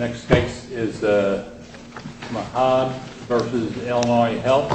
Next case is Mahad v. Illinois Health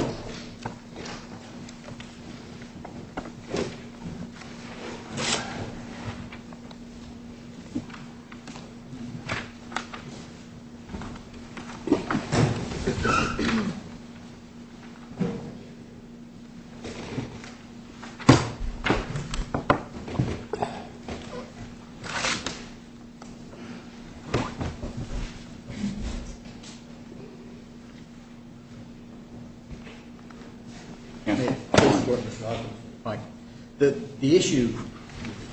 The issue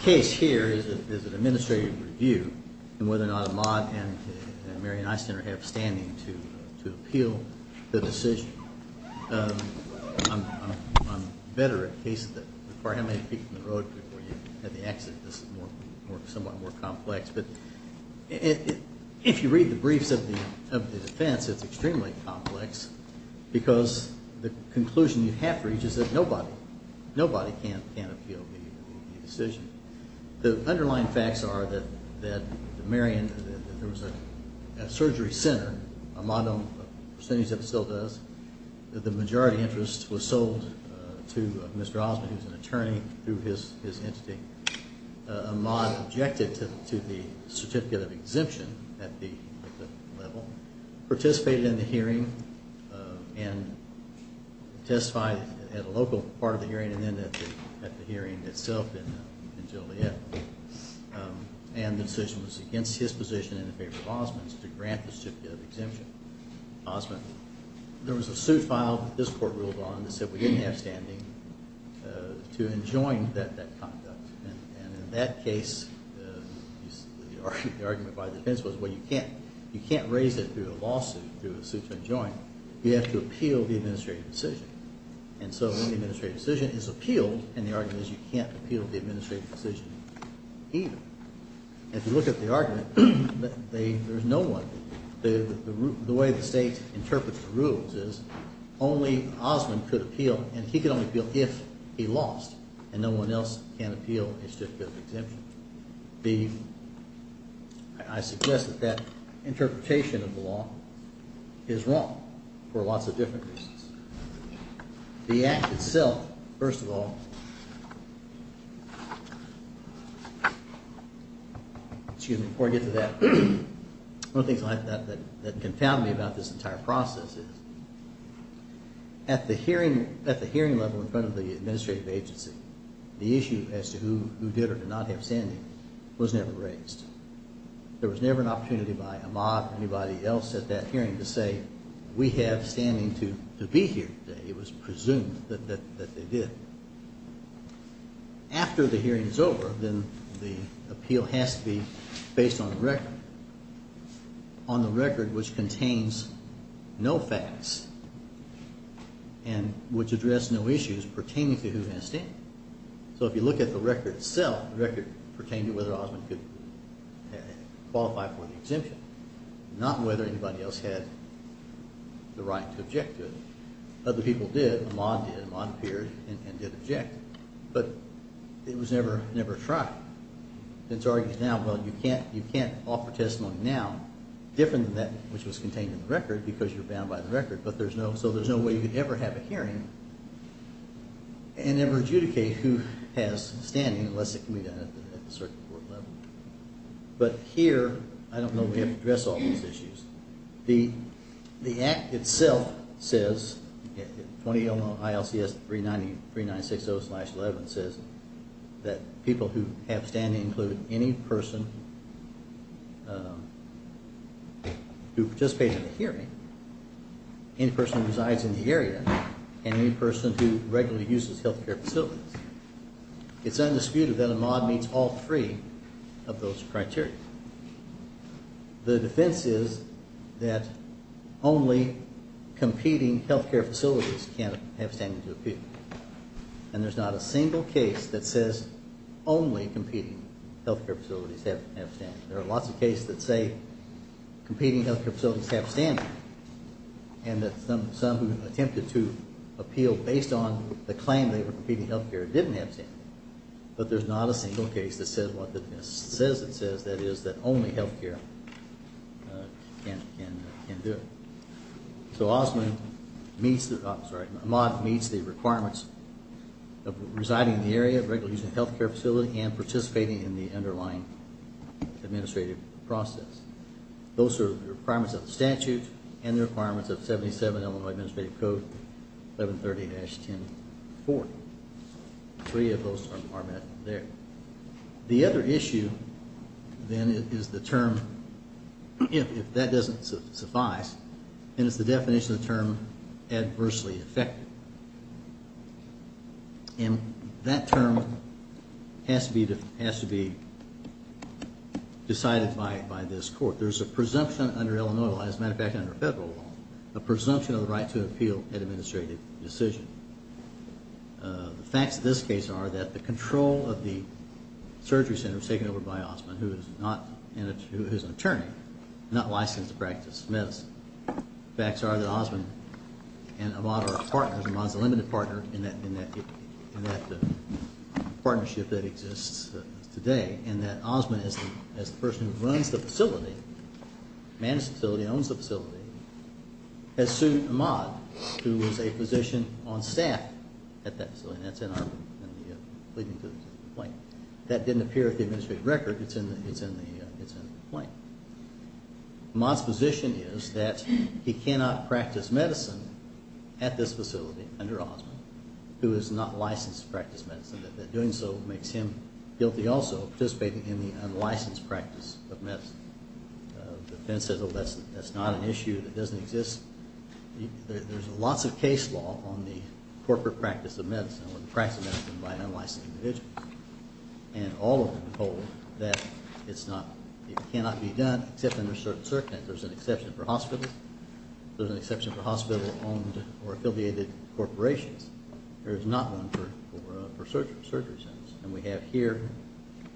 case here is an administrative review and whether or not Mahad and Mary and I stand or have standing to appeal the decision. I'm better at cases that require how many feet from the road before you have the exit. This is somewhat more complex. But if you read the briefs of the defense, it's extremely complex because the conclusion you have to reach is that nobody can appeal the decision. The underlying facts are that Mary and I, there was a surgery center, a modem, a percentage of it still does. The majority interest was sold to Mr. Osmond who is an attorney through his entity. Mahad objected to the certificate of exemption at the level, participated in the hearing and testified at a local part of the hearing and then at the hearing itself in Joliet. And the decision was against his position in favor of Osmond's to grant the certificate of exemption. Osmond, there was a suit filed that this court ruled on that said we didn't have standing to enjoin that conduct. And in that case, the argument by the defense was, well, you can't raise it through a lawsuit, through a suit to enjoin. You have to appeal the administrative decision. And so when the administrative decision is appealed, and the argument is you can't appeal the administrative decision either. If you look at the argument, there's no one. The way the state interprets the rules is only Osmond could appeal, and he could only appeal if he lost, and no one else can appeal his certificate of exemption. I suggest that that interpretation of the law is wrong for lots of different reasons. The act itself, first of all, excuse me, before I get to that, one of the things that confound me about this entire process is at the hearing level in front of the administrative agency, the issue as to who did or did not have standing was never raised. There was never an opportunity by Ahmad or anybody else at that hearing to say we have standing to be here today. It was presumed that they did. After the hearing is over, then the appeal has to be based on the record, on the record which contains no facts and which addressed no issues pertaining to who has standing. So if you look at the record itself, the record pertained to whether Osmond could qualify for the exemption, not whether anybody else had the right to object to it. Other people did. Ahmad did. Ahmad appeared and did object. But it was never tried. It's argued now, well, you can't offer testimony now different than that which was contained in the record because you're bound by the record. So there's no way you could ever have a hearing and ever adjudicate who has standing unless it can be done at the circuit court level. But here, I don't know we have to address all these issues. The act itself says, 20-00-ILCS-390-3960-11 says that people who have standing include any person who participated in the hearing, any person who resides in the area, and any person who regularly uses health care facilities. It's undisputed that Ahmad meets all three of those criteria. The defense is that only competing health care facilities can have standing to appeal. And there's not a single case that says only competing health care facilities have standing. There are lots of cases that say competing health care facilities have standing and that some attempted to appeal based on the claim they were competing health care didn't have standing. But there's not a single case that says what the defense says it says, that is that only health care can do. So Ahmad meets the requirements of residing in the area, regularly using a health care facility, and participating in the underlying administrative process. Those are the requirements of the statute and the requirements of 77 Illinois Administrative Code 1130-1040. Three of those are met there. The other issue then is the term, if that doesn't suffice, and it's the definition of the term adversely affected. And that term has to be decided by this court. There's a presumption under the right to appeal an administrative decision. The facts of this case are that the control of the surgery center was taken over by Osman, who is an attorney, not licensed to practice medicine. The facts are that Osman and Ahmad are partners. Ahmad is a limited partner in that partnership that exists today. And that Osman, as the person who runs the facility, manages the facility, owns the facility, has sued Ahmad, who is a physician on staff at that facility. And that's in our complaint. That didn't appear in the administrative record. It's in the complaint. Ahmad's position is that he cannot practice medicine at this facility under Osman, who is not licensed to practice medicine. That doing so makes him guilty also of participating in the unlicensed practice of medicine. The defense says, oh, that's not an issue. That doesn't exist. There's lots of case law on the corporate practice of medicine or the practice of medicine by unlicensed individuals. And all of them hold that it's not, it cannot be done except under certain circumstances. There's an exception for hospitals. There's an exception for hospital-owned or affiliated corporations. There is not one exception for surgery centers. And we have here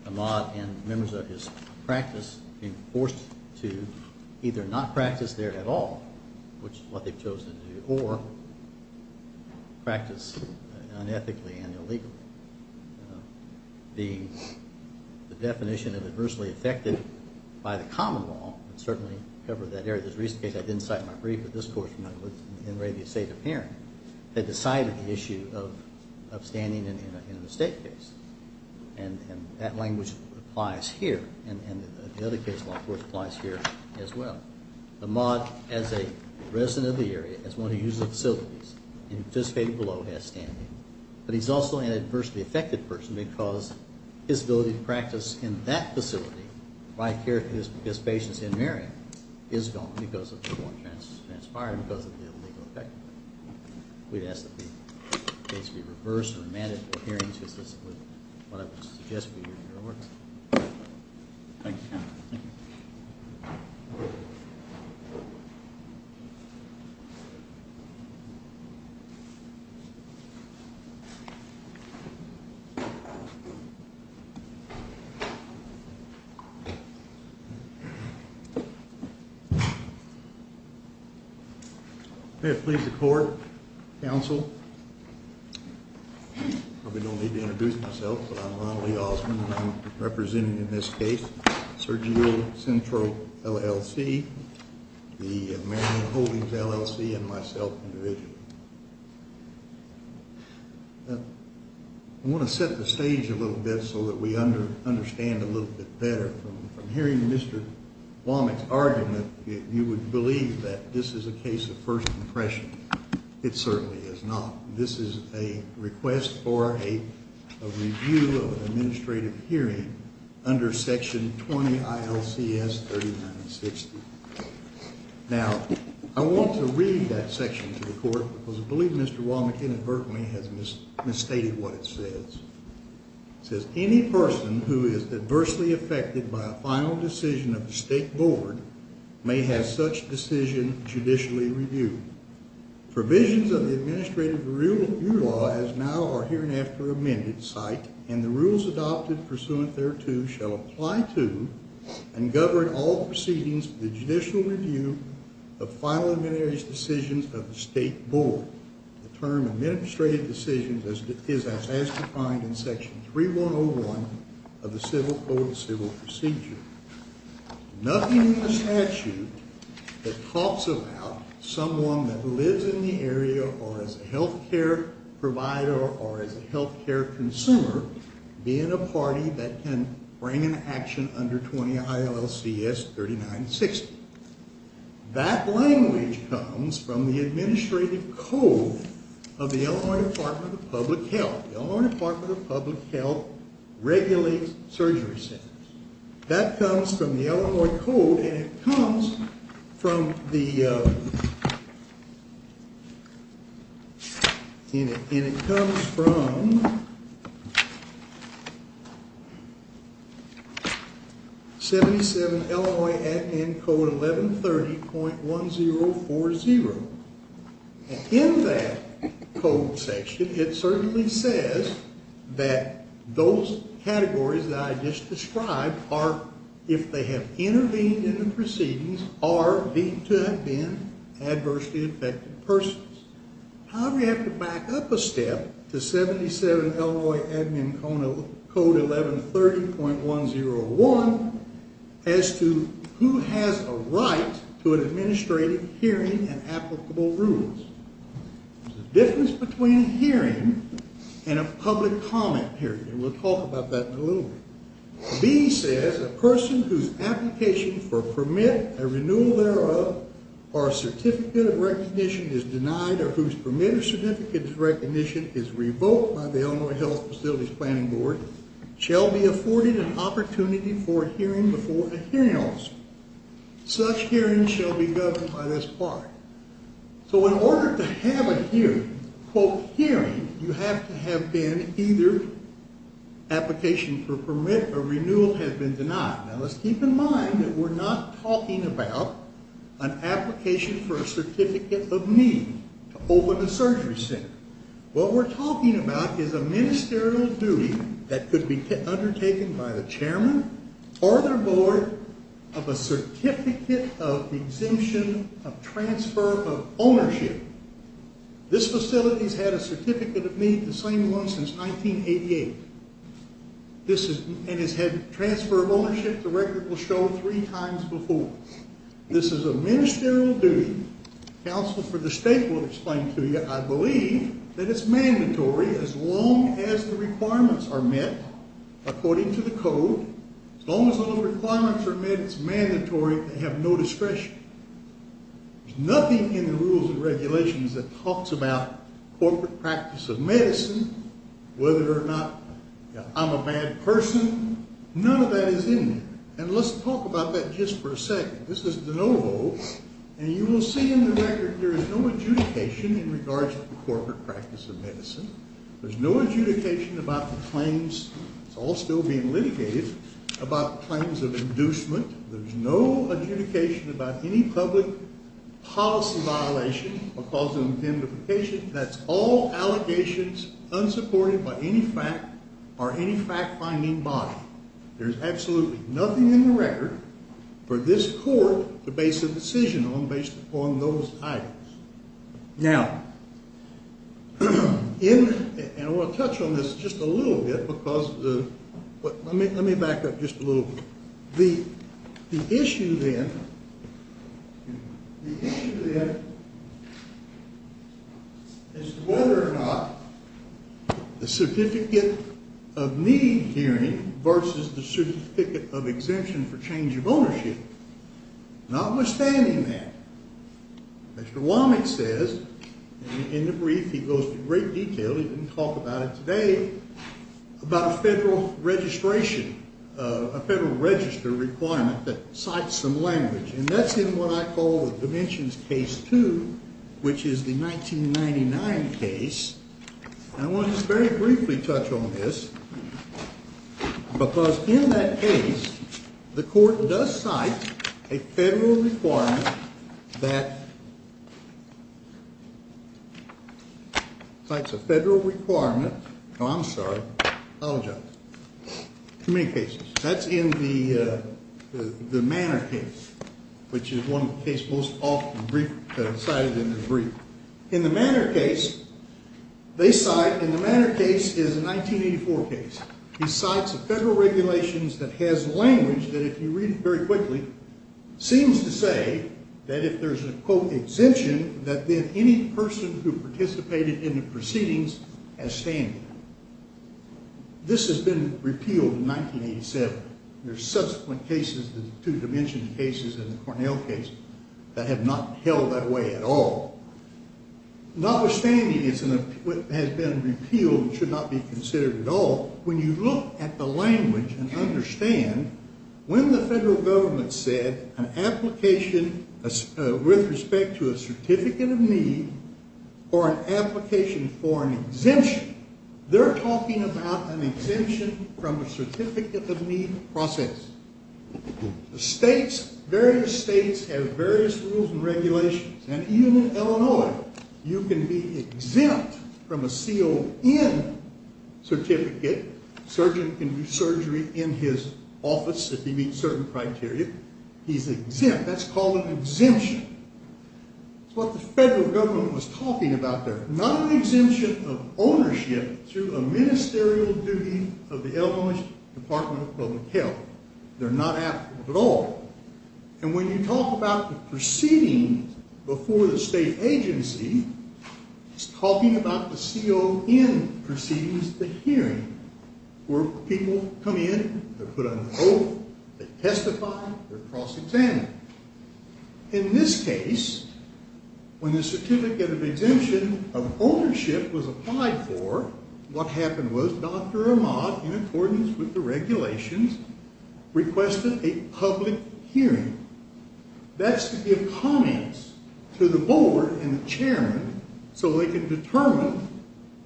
Ahmad and members of his practice being forced to either not practice there at all, which is what they've chosen to do, or practice unethically and illegally. The definition of adversely affected by the common law would certainly cover that area. There's a recent case, I didn't cite my brief, but this course in radio state of hearing, they decided the issue of standing in a mistake case. And that language applies here. And the other case law, of course, applies here as well. Ahmad, as a resident of the area, as one who uses the facilities, and participated below has standing. But he's also an adversely affected person because his ability to practice in that facility, by care for his patients in Marion, is gone because of the law transpired because of the illegal effect. We'd ask that the case be reversed and remanded for hearings just as what I would suggest we do. Thank you. May it please the court, counsel. I probably don't need to introduce myself, but I'm Ronald Lee Osmond, and I'm representing in this case Surgery Central LLC, the Marion Holdings LLC, and myself individually. I want to set the stage a little bit so that we can understand a little bit better. From hearing Mr. Womack's argument, you would believe that this is a case of first impression. It certainly is not. This is a request for a review of an administrative hearing under Section 20 ILCS 3960. Now, I want to read that section to the court because I believe Mr. Womack inadvertently has misstated what it says. It says, Any person who is adversely affected by a final decision of the State Board may have such decision judicially reviewed. Provisions of the administrative review law as now are hereinafter amended, cite, and the rules adopted pursuant thereto shall apply to and govern all proceedings of the judicial review of final administrative decisions of the State Board. The term administrative decisions is as defined in Section 3101 of the Civil Code and Civil Procedure. Nothing in the statute that talks about someone that lives in the area or is a health care provider or is a health care consumer being a party that can bring an action under 20 ILCS 3960. That language comes from the administrative code of the Illinois Department of Public Health. The Illinois Department of Public Health regulates surgery centers. That comes from the Illinois Code, and it comes from 77 Illinois Act End Code 1130.1040. In that code section, it certainly says that those categories that I just described are, if they have intervened in the proceedings, are deemed to have been adversely affected persons. However, you have to back up a step to 77 Illinois Admin Code 1130.101 as to who has a right to an administrative hearing and applicable rules. The difference between a hearing and a public comment hearing, and we'll talk about that in a little bit, B says a person whose application for a permit, a renewal thereof, or a certificate of recognition is denied or whose permit or certificate of recognition is revoked by the Illinois Health Facilities Planning Board shall be afforded an opportunity for a hearing before a hearing officer. Such hearings shall be governed by this part. So in order to have a hearing, quote, hearing, you have to have been either application for permit or renewal has been denied. Now let's keep in mind that we're not talking about an application for a certificate of need to open a surgery center. What we're talking about is a ministerial duty that could be undertaken by the chairman or their board of a certificate of exemption of transfer of ownership. This facility's had a certificate of need, the same one, since 1988. This is, and has had transfer of ownership, the record will show, three times before. This is a ministerial duty. Counsel for the state will explain to you, I believe, that it's mandatory as long as the requirements are met according to the requirements are met, it's mandatory to have no discretion. There's nothing in the rules and regulations that talks about corporate practice of medicine, whether or not I'm a bad person. None of that is in there. And let's talk about that just for a second. This is de novo, and you will see in the record there is no adjudication in regards to the corporate practice of medicine. There's no adjudication about the claims, it's all still being litigated, about the claims of inducement. There's no adjudication about any public policy violation or cause of indemnification. That's all allegations unsupported by any fact or any fact-finding body. There's absolutely nothing in the record for this court to base a decision on based upon those items. Now, in, and I want to touch on this just a little bit because of the, let me back up just a little bit. The issue then, the issue then is whether or not the certificate of need hearing versus the certificate of exemption for change of ownership, notwithstanding that, Mr. Womack says in the brief, he goes to great detail, he didn't talk about it today, about a federal registration, a federal register requirement that cites some language. And that's in what I call the Dimensions Case 2, which is the 1999 case. And I want to just very briefly touch on this because in that case, the federal requirement, oh, I'm sorry, I apologize, too many cases. That's in the Manor case, which is one of the cases most often cited in the brief. In the Manor case, they cite, and the Manor case is a 1984 case. He cites a federal regulation that has language that, if you read it very quickly, seems to say that if there's a, quote, exemption, that then any person who participated in the proceedings has standing. This has been repealed in 1987. There's subsequent cases, the two-dimension cases in the Cornell case, that have not held that way at all. Notwithstanding it has been repealed and should not be considered at all, when you look at the language and understand, when the federal government said an application with respect to a Certificate of Need or an application for an exemption, they're talking about an exemption from a Certificate of Need process. The states, various states, have various rules and regulations. And even in Illinois, you can be exempt from a CON certificate. A surgeon can do surgery in his office if he meets certain criteria. He's exempt. That's called an exemption. That's what the federal government was talking about there. Not an exemption of ownership through a ministerial duty of the Illinois Department of Public Health. They're not applicable at all. And when you talk about the proceedings before the state agency, it's talking about the CON proceedings, the hearing, where people come in, they're put on oath, they testify, they're cross-examined. In this case, when the Certificate of Exemption of Ownership was applied for, what happened was Dr. Ahmad, in accordance with the regulations, requested a public hearing. That's to give comments to the board and the chairman so they can determine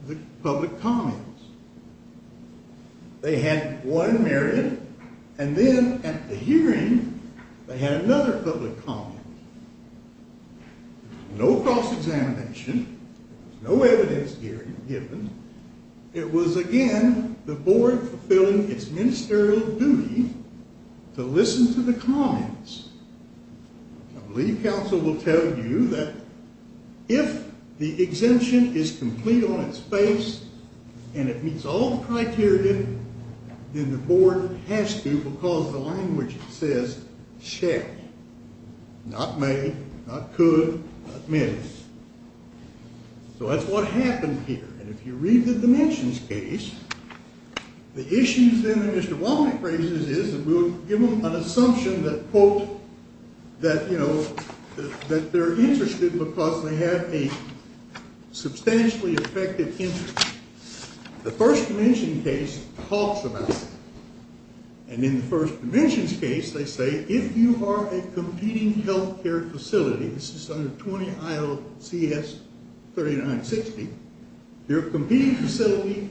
the public comments. They had one hearing, and then at the hearing, they had another public comment. No cross-examination, no evidence given. It was, again, the board fulfilling its ministerial duty to listen to the comments. I believe counsel will tell you that if the exemption is complete on its face, and it meets all the criteria, then the board has to, because the language says, not may, not could, not may. So that's what happened here. And if you read the Dimensions case, the issues then that Mr. Womack raises is that we'll give them an assumption that, quote, that, you know, that they're interested because they have a substantially effective interest. The First Dimension case talks about that. And in the First Dimensions case, they say, if you are a competing healthcare facility, this is under 20 ILCS 3960, you're a competing facility,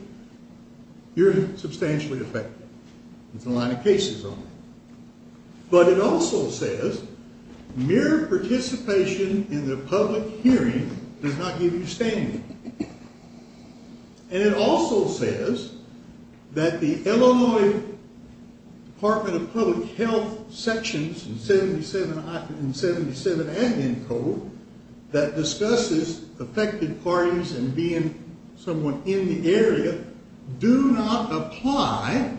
you're substantially effective. It's a line of cases only. But it also says, mere participation in the public hearing does not give you standing. And it also says that the Illinois Department of Public Health sections in 77 and ENCODE that discusses effective parties and being someone in the area do not apply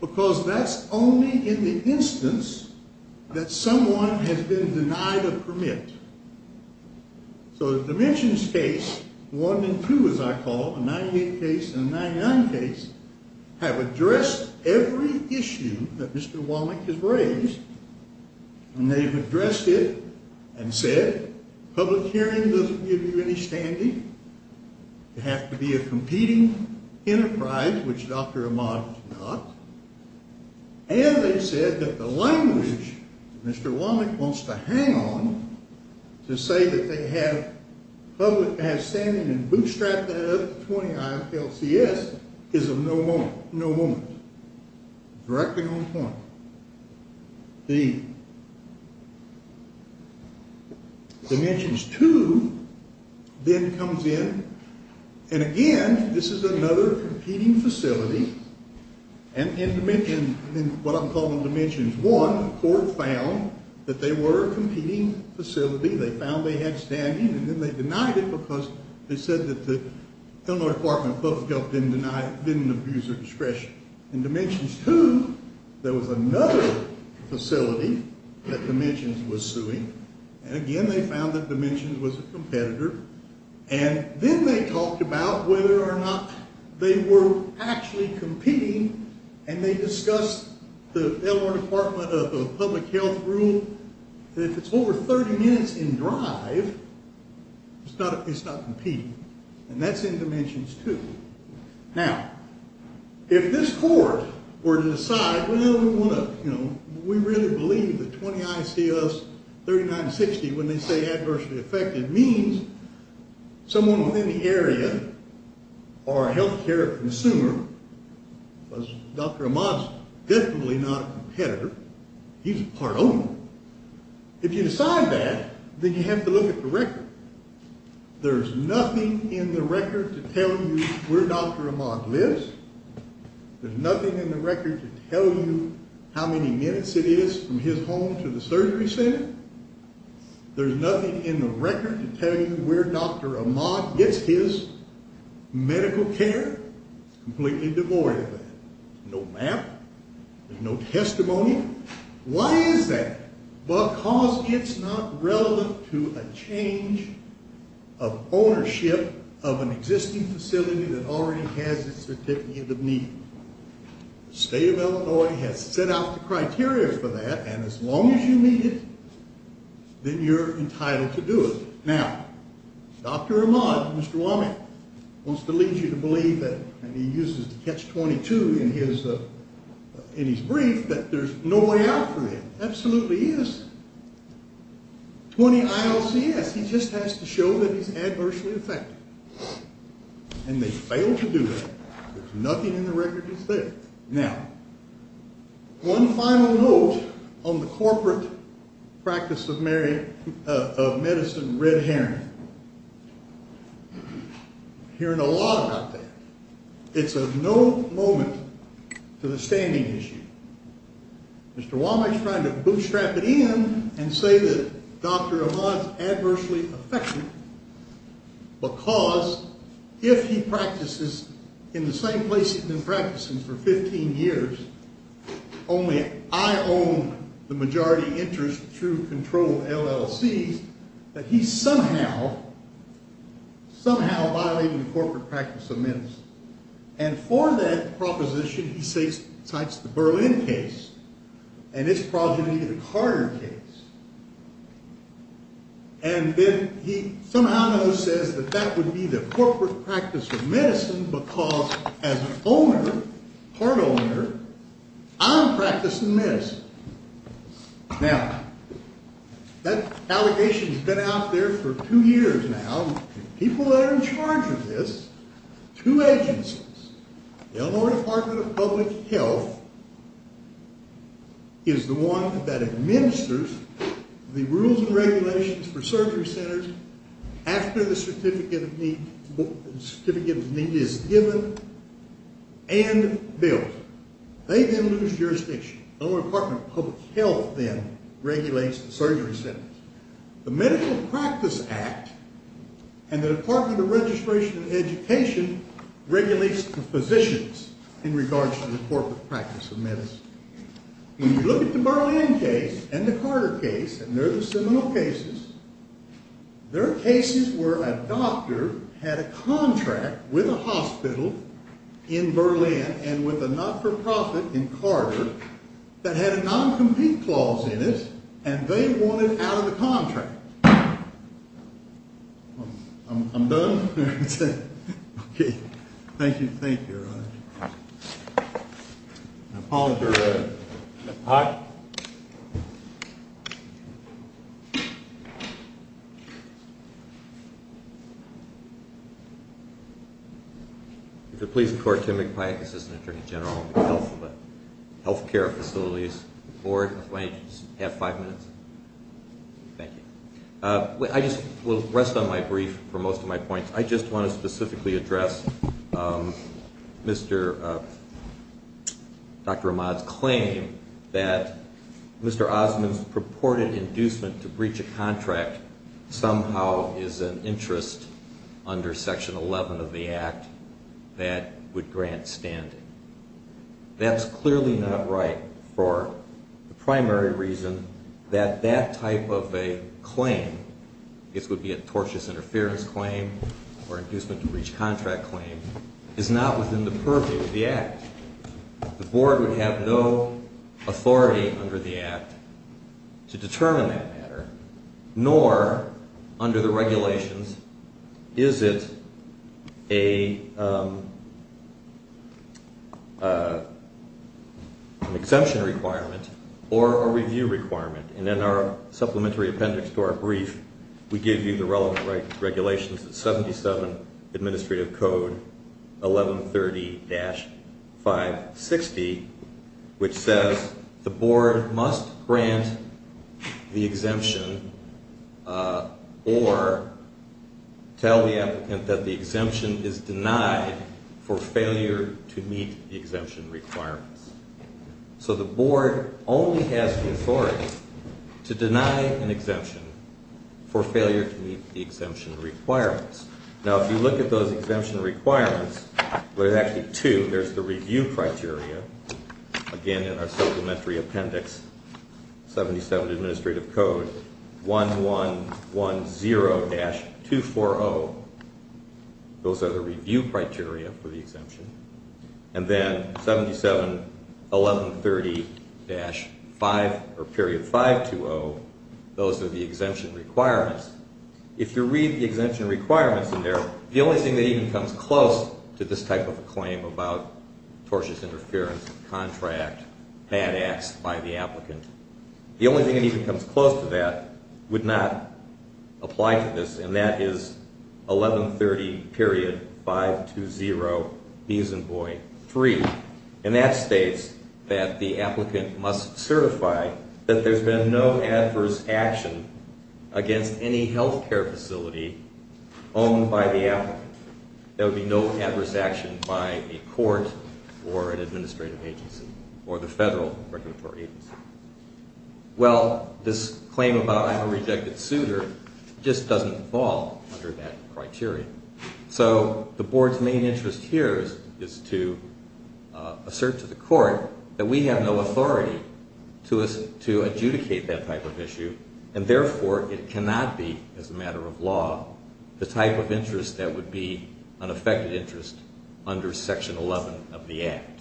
because that's only in the instance that someone has been denied a permit. So the Dimensions case, one and two, as I call them, a 98 case and a 99 case, have addressed every issue that Mr. Womack has raised. And they've addressed it and said, public hearing doesn't give you any standing. You have to be a competing enterprise, which Dr. Ahmad did not. And they said that the language Mr. Womack wants to hang on to say that they have standing and bootstrapped that up to 20 ILCS is of no moment. Directly on point. The Dimensions 2 then comes in. And again, this is another competing facility. And in what I'm calling Dimensions 1, the court found that they were a competing facility. They found they had standing. And then they denied it because they said that the Illinois Department of Public Health didn't abuse their discretion. In Dimensions 2, there was another facility that Dimensions was suing. And again, they found that Dimensions was a competitor. And then they talked about whether or not they were actually competing. And they discussed the Illinois Department of Public Health rule that if it's over 30 minutes in drive, it's not competing. And that's in Dimensions 2. Now, if this court were to decide, well, we really believe that 20 ICS 3960, when they say adversely affected, means someone within the area or a health care consumer. Dr. Ahmad's definitely not a competitor. He's a part owner. If you decide that, then you have to look at the record. There's nothing in the record to tell you where Dr. Ahmad lives. There's nothing in the record to tell you how many minutes it is from his home to the surgery center. There's nothing in the record to tell you where Dr. Ahmad gets his medical care. It's completely devoid of that. No map. There's no testimony. Why is that? Because it's not relevant to a change of ownership of an existing facility that already has its certificate of need. The state of Illinois has set out the criteria for that. And as long as you meet it, then you're entitled to do it. Now, Dr. Ahmad, Mr. Womack, wants to lead you to believe that, and he uses the catch-22 in his brief, that there's no way out for him. Absolutely he is. 20 ILCS, he just has to show that he's adversely affected. And they fail to do that. There's nothing in the record that's there. Now, one final note on the corporate practice of medicine red herring. Hearing a lot about that. It's of no moment to the standing issue. Mr. Womack's trying to bootstrap it in and say that Dr. Ahmad's adversely affected because if he practices in the same place he's been practicing for 15 years, only I own the majority interest through controlled LLCs, that he's somehow violating the corporate practice of medicine. And for that proposition, he cites the Berlin case and its progeny, the Carter case. And then he somehow says that that would be the corporate practice of medicine because as an owner, part owner, I'm practicing medicine. Now, that allegation's been out there for two years now, and people that are in charge of this, two agencies, the Illinois Department of Public Health is the one that administers the rules and regulations for surgery centers after the certificate of need is given and built. They then lose jurisdiction. Illinois Department of Public Health then regulates the surgery centers. The Medical Practice Act and the Department of Registration and Education regulates the positions in regards to the corporate practice of medicine. When you look at the Berlin case and the Carter case, and they're the similar cases, they're cases where a doctor had a contract with a hospital in Berlin and with a not-for-profit in Carter that had a non-compete clause in it, and they wanted out of the contract. All right. I'm done? Thank you. Thank you, Your Honor. I apologize. All right. If you'll please record Tim McPike, Assistant Attorney General of the Health Care Facilities Board. Mr. McPike, do you have five minutes? Thank you. I just will rest on my brief for most of my points. I just want to specifically address Dr. Ahmad's claim that Mr. Osmond's purported inducement to breach a contract somehow is an interest under Section 11 of the Act that would grant standing. That's clearly not right for the primary reason that that type of a claim, this would be a tortious interference claim or inducement to breach contract claim, is not within the purview of the Act. The Board would have no authority under the Act to determine that matter, nor under the regulations is it an exemption requirement or a review requirement. And in our supplementary appendix to our brief, we give you the relevant regulations, the 77 Administrative Code 1130-560, which says the Board must grant the exemption or tell the applicant that the exemption is denied for failure to meet the exemption requirements. So the Board only has the authority to deny an exemption for failure to meet the exemption requirements. Now if you look at those exemption requirements, there's actually two. There's the review criteria, again in our supplementary appendix, 77 Administrative Code 1110-240. Those are the review criteria for the exemption. And then 77 1130-5 or period 520, those are the exemption requirements. If you read the exemption requirements in there, the only thing that even comes close to this type of a claim about tortious interference, contract, bad acts by the applicant, the only thing that even comes close to that would not apply to this, and that is 1130.520.3. And that states that the applicant must certify that there's been no adverse action against any health care facility owned by the applicant. There would be no adverse action by a court or an administrative agency or the federal regulatory agency. Well, this claim about I'm a rejected suitor just doesn't fall under that criteria. So the Board's main interest here is to assert to the court that we have no authority to adjudicate that type of issue, and therefore it cannot be, as a matter of law, the type of interest that would be an affected interest under Section 11 of the Act.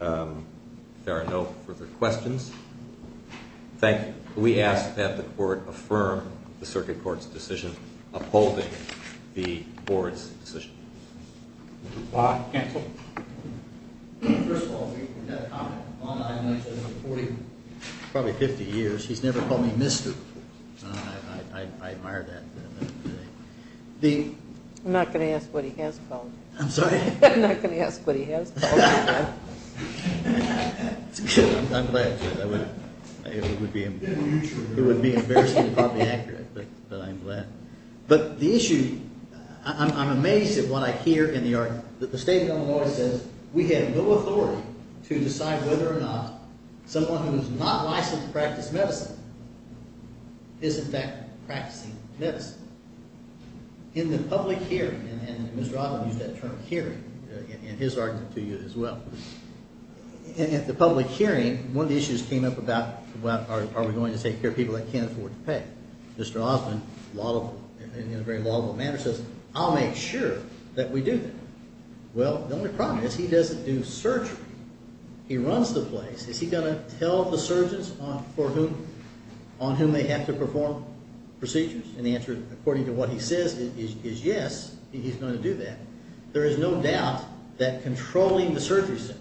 If there are no further questions, thank you. We ask that the Court affirm the Circuit Court's decision upholding the Board's decision. Mr. Plott, counsel. First of all, we've had a comment online for probably 50 years. He's never called me mister. I admire that. I'm not going to ask what he has called you. I'm sorry? I'm not going to ask what he has called you. I'm glad. It would be embarrassing and probably inaccurate, but I'm glad. But the issue, I'm amazed at what I hear in the argument. The State of Illinois says we have no authority to decide whether or not someone who is not licensed to practice medicine is in fact practicing medicine. In the public hearing, and Mr. Osmond used that term, hearing, in his argument to you as well, in the public hearing, one of the issues came up about are we going to take care of people that can't afford to pay. Mr. Osmond, in a very lawful manner, says I'll make sure that we do that. Well, the only problem is he doesn't do surgery. He runs the place. Is he going to tell the surgeons on whom they have to perform procedures? And the answer, according to what he says, is yes, he's going to do that. There is no doubt that controlling the surgery center,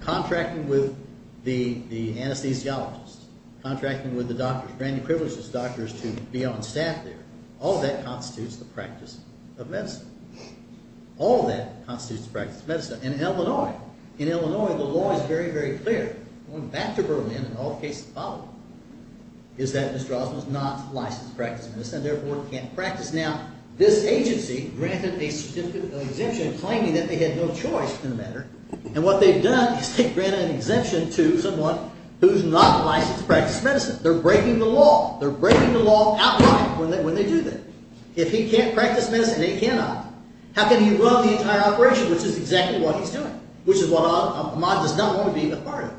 contracting with the anesthesiologists, contracting with the doctors, granting privileges to doctors to be on staff there, all of that constitutes the practice of medicine. All of that constitutes the practice of medicine. In Illinois, the law is very, very clear. Going back to Berlin, in all cases following, is that Mr. Osmond is not licensed to practice medicine and therefore can't practice. Now, this agency granted a certificate of exemption claiming that they had no choice in the matter, and what they've done is they've granted an exemption to someone who's not licensed to practice medicine. They're breaking the law. They're breaking the law outright when they do that. If he can't practice medicine, they cannot. How can he run the entire operation, which is exactly what he's doing, which is what Osmond does not want to be a part of.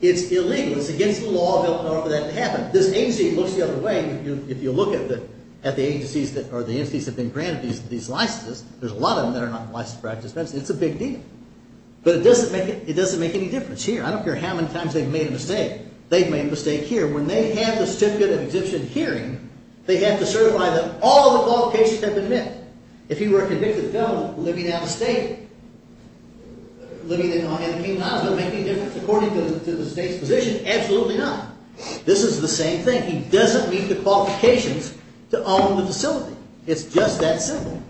It's illegal. It's against the law of Illinois for that to happen. This agency looks the other way. If you look at the agencies that are the agencies that have been granted these licenses, there's a lot of them that are not licensed to practice medicine. It's a big deal. But it doesn't make any difference here. I don't care how many times they've made a mistake. They've made a mistake here. When they have the certificate of exemption hearing, they have to certify that all of the qualifications have been met. If he were a convicted felon living out of state, living in Illinois, is it going to make any difference according to the state's position? Absolutely not. This is the same thing. He doesn't meet the qualifications to own the facility. It's just that simple.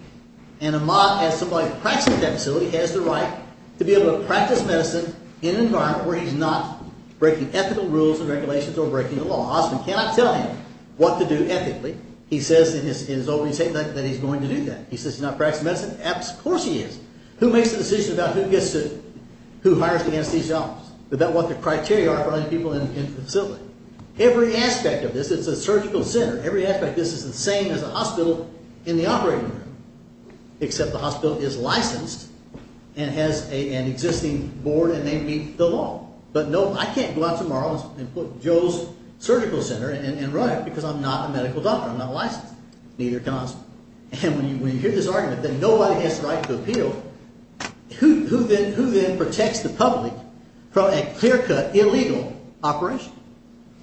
And someone who practices at that facility has the right to be able to practice medicine in an environment where he's not breaking ethical rules and regulations or breaking the law. Osmond cannot tell him what to do ethically. He says in his opening statement that he's going to do that. He says he's not practicing medicine. Of course he is. Who makes the decision about who hires the anesthesiologist? Is that what the criteria are for other people in the facility? Every aspect of this is a surgical center. Every aspect of this is the same as a hospital in the operating room, except the hospital is licensed and has an existing board and they meet the law. But no, I can't go out tomorrow and put Joe's surgical center and run it because I'm not a medical doctor. I'm not licensed. Neither can Osmond. And when you hear this argument that nobody has the right to appeal, who then protects the public from a clear-cut illegal operation?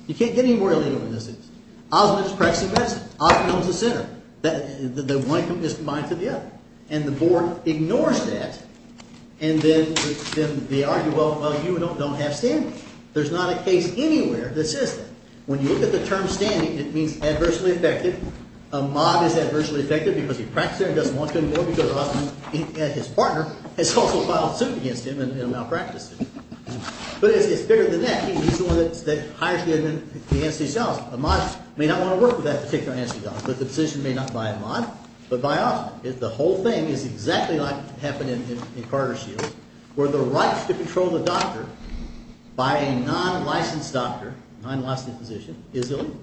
You can't get any more illegal than this is. Osmond is practicing medicine. Osmond owns the center. The one is mine to the other. And the board ignores that. And then they argue, well, you don't have standing. There's not a case anywhere that says that. When you look at the term standing, it means adversely affected. A mob is adversely affected because he practices there and doesn't want to anymore because his partner has also filed suit against him and malpracticed him. But it's bigger than that. He's the one that hires the anesthesiologist. A mob may not want to work with that particular anesthesiologist, but the physician may not buy a mob but buy Osmond. The whole thing is exactly like what happened in Carter Shields where the right to control the doctor by a non-licensed doctor, non-licensed physician, is illegal.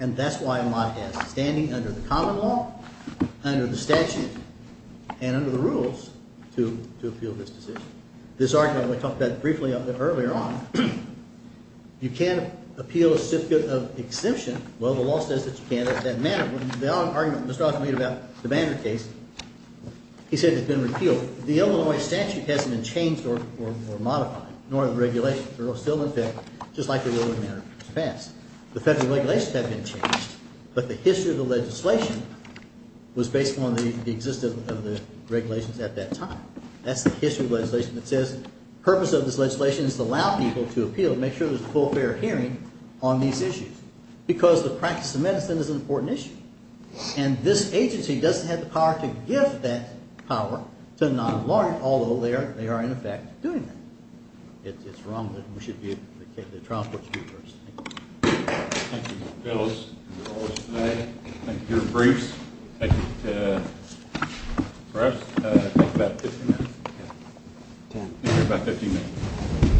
And that's why a mob has standing under the common law, under the statute, and under the rules to appeal this decision. This argument we talked about briefly earlier on, you can't appeal a certificate of exemption. Well, the law says that you can't in that manner. The argument Mr. Osmond made about the Banner case, he said it's been repealed. The Illinois statute hasn't been changed or modified, nor are the regulations. They're still in effect just like they were in the Banner case in the past. The federal regulations have been changed, but the history of the legislation was based on the existence of the regulations at that time. That's the history of the legislation that says the purpose of this legislation is to allow people to appeal to make sure there's a full, fair hearing on these issues because the practice of medicine is an important issue. And this agency doesn't have the power to give that power to a non-lawyer, although they are, in effect, doing that. It's wrong that we should be the trial court speakers. Thank you. Thank you, Mr. Phillips. That's all for today. Thank you for your briefs. Thank you to the press. Thank you for about 15 minutes. Thank you for about 15 minutes.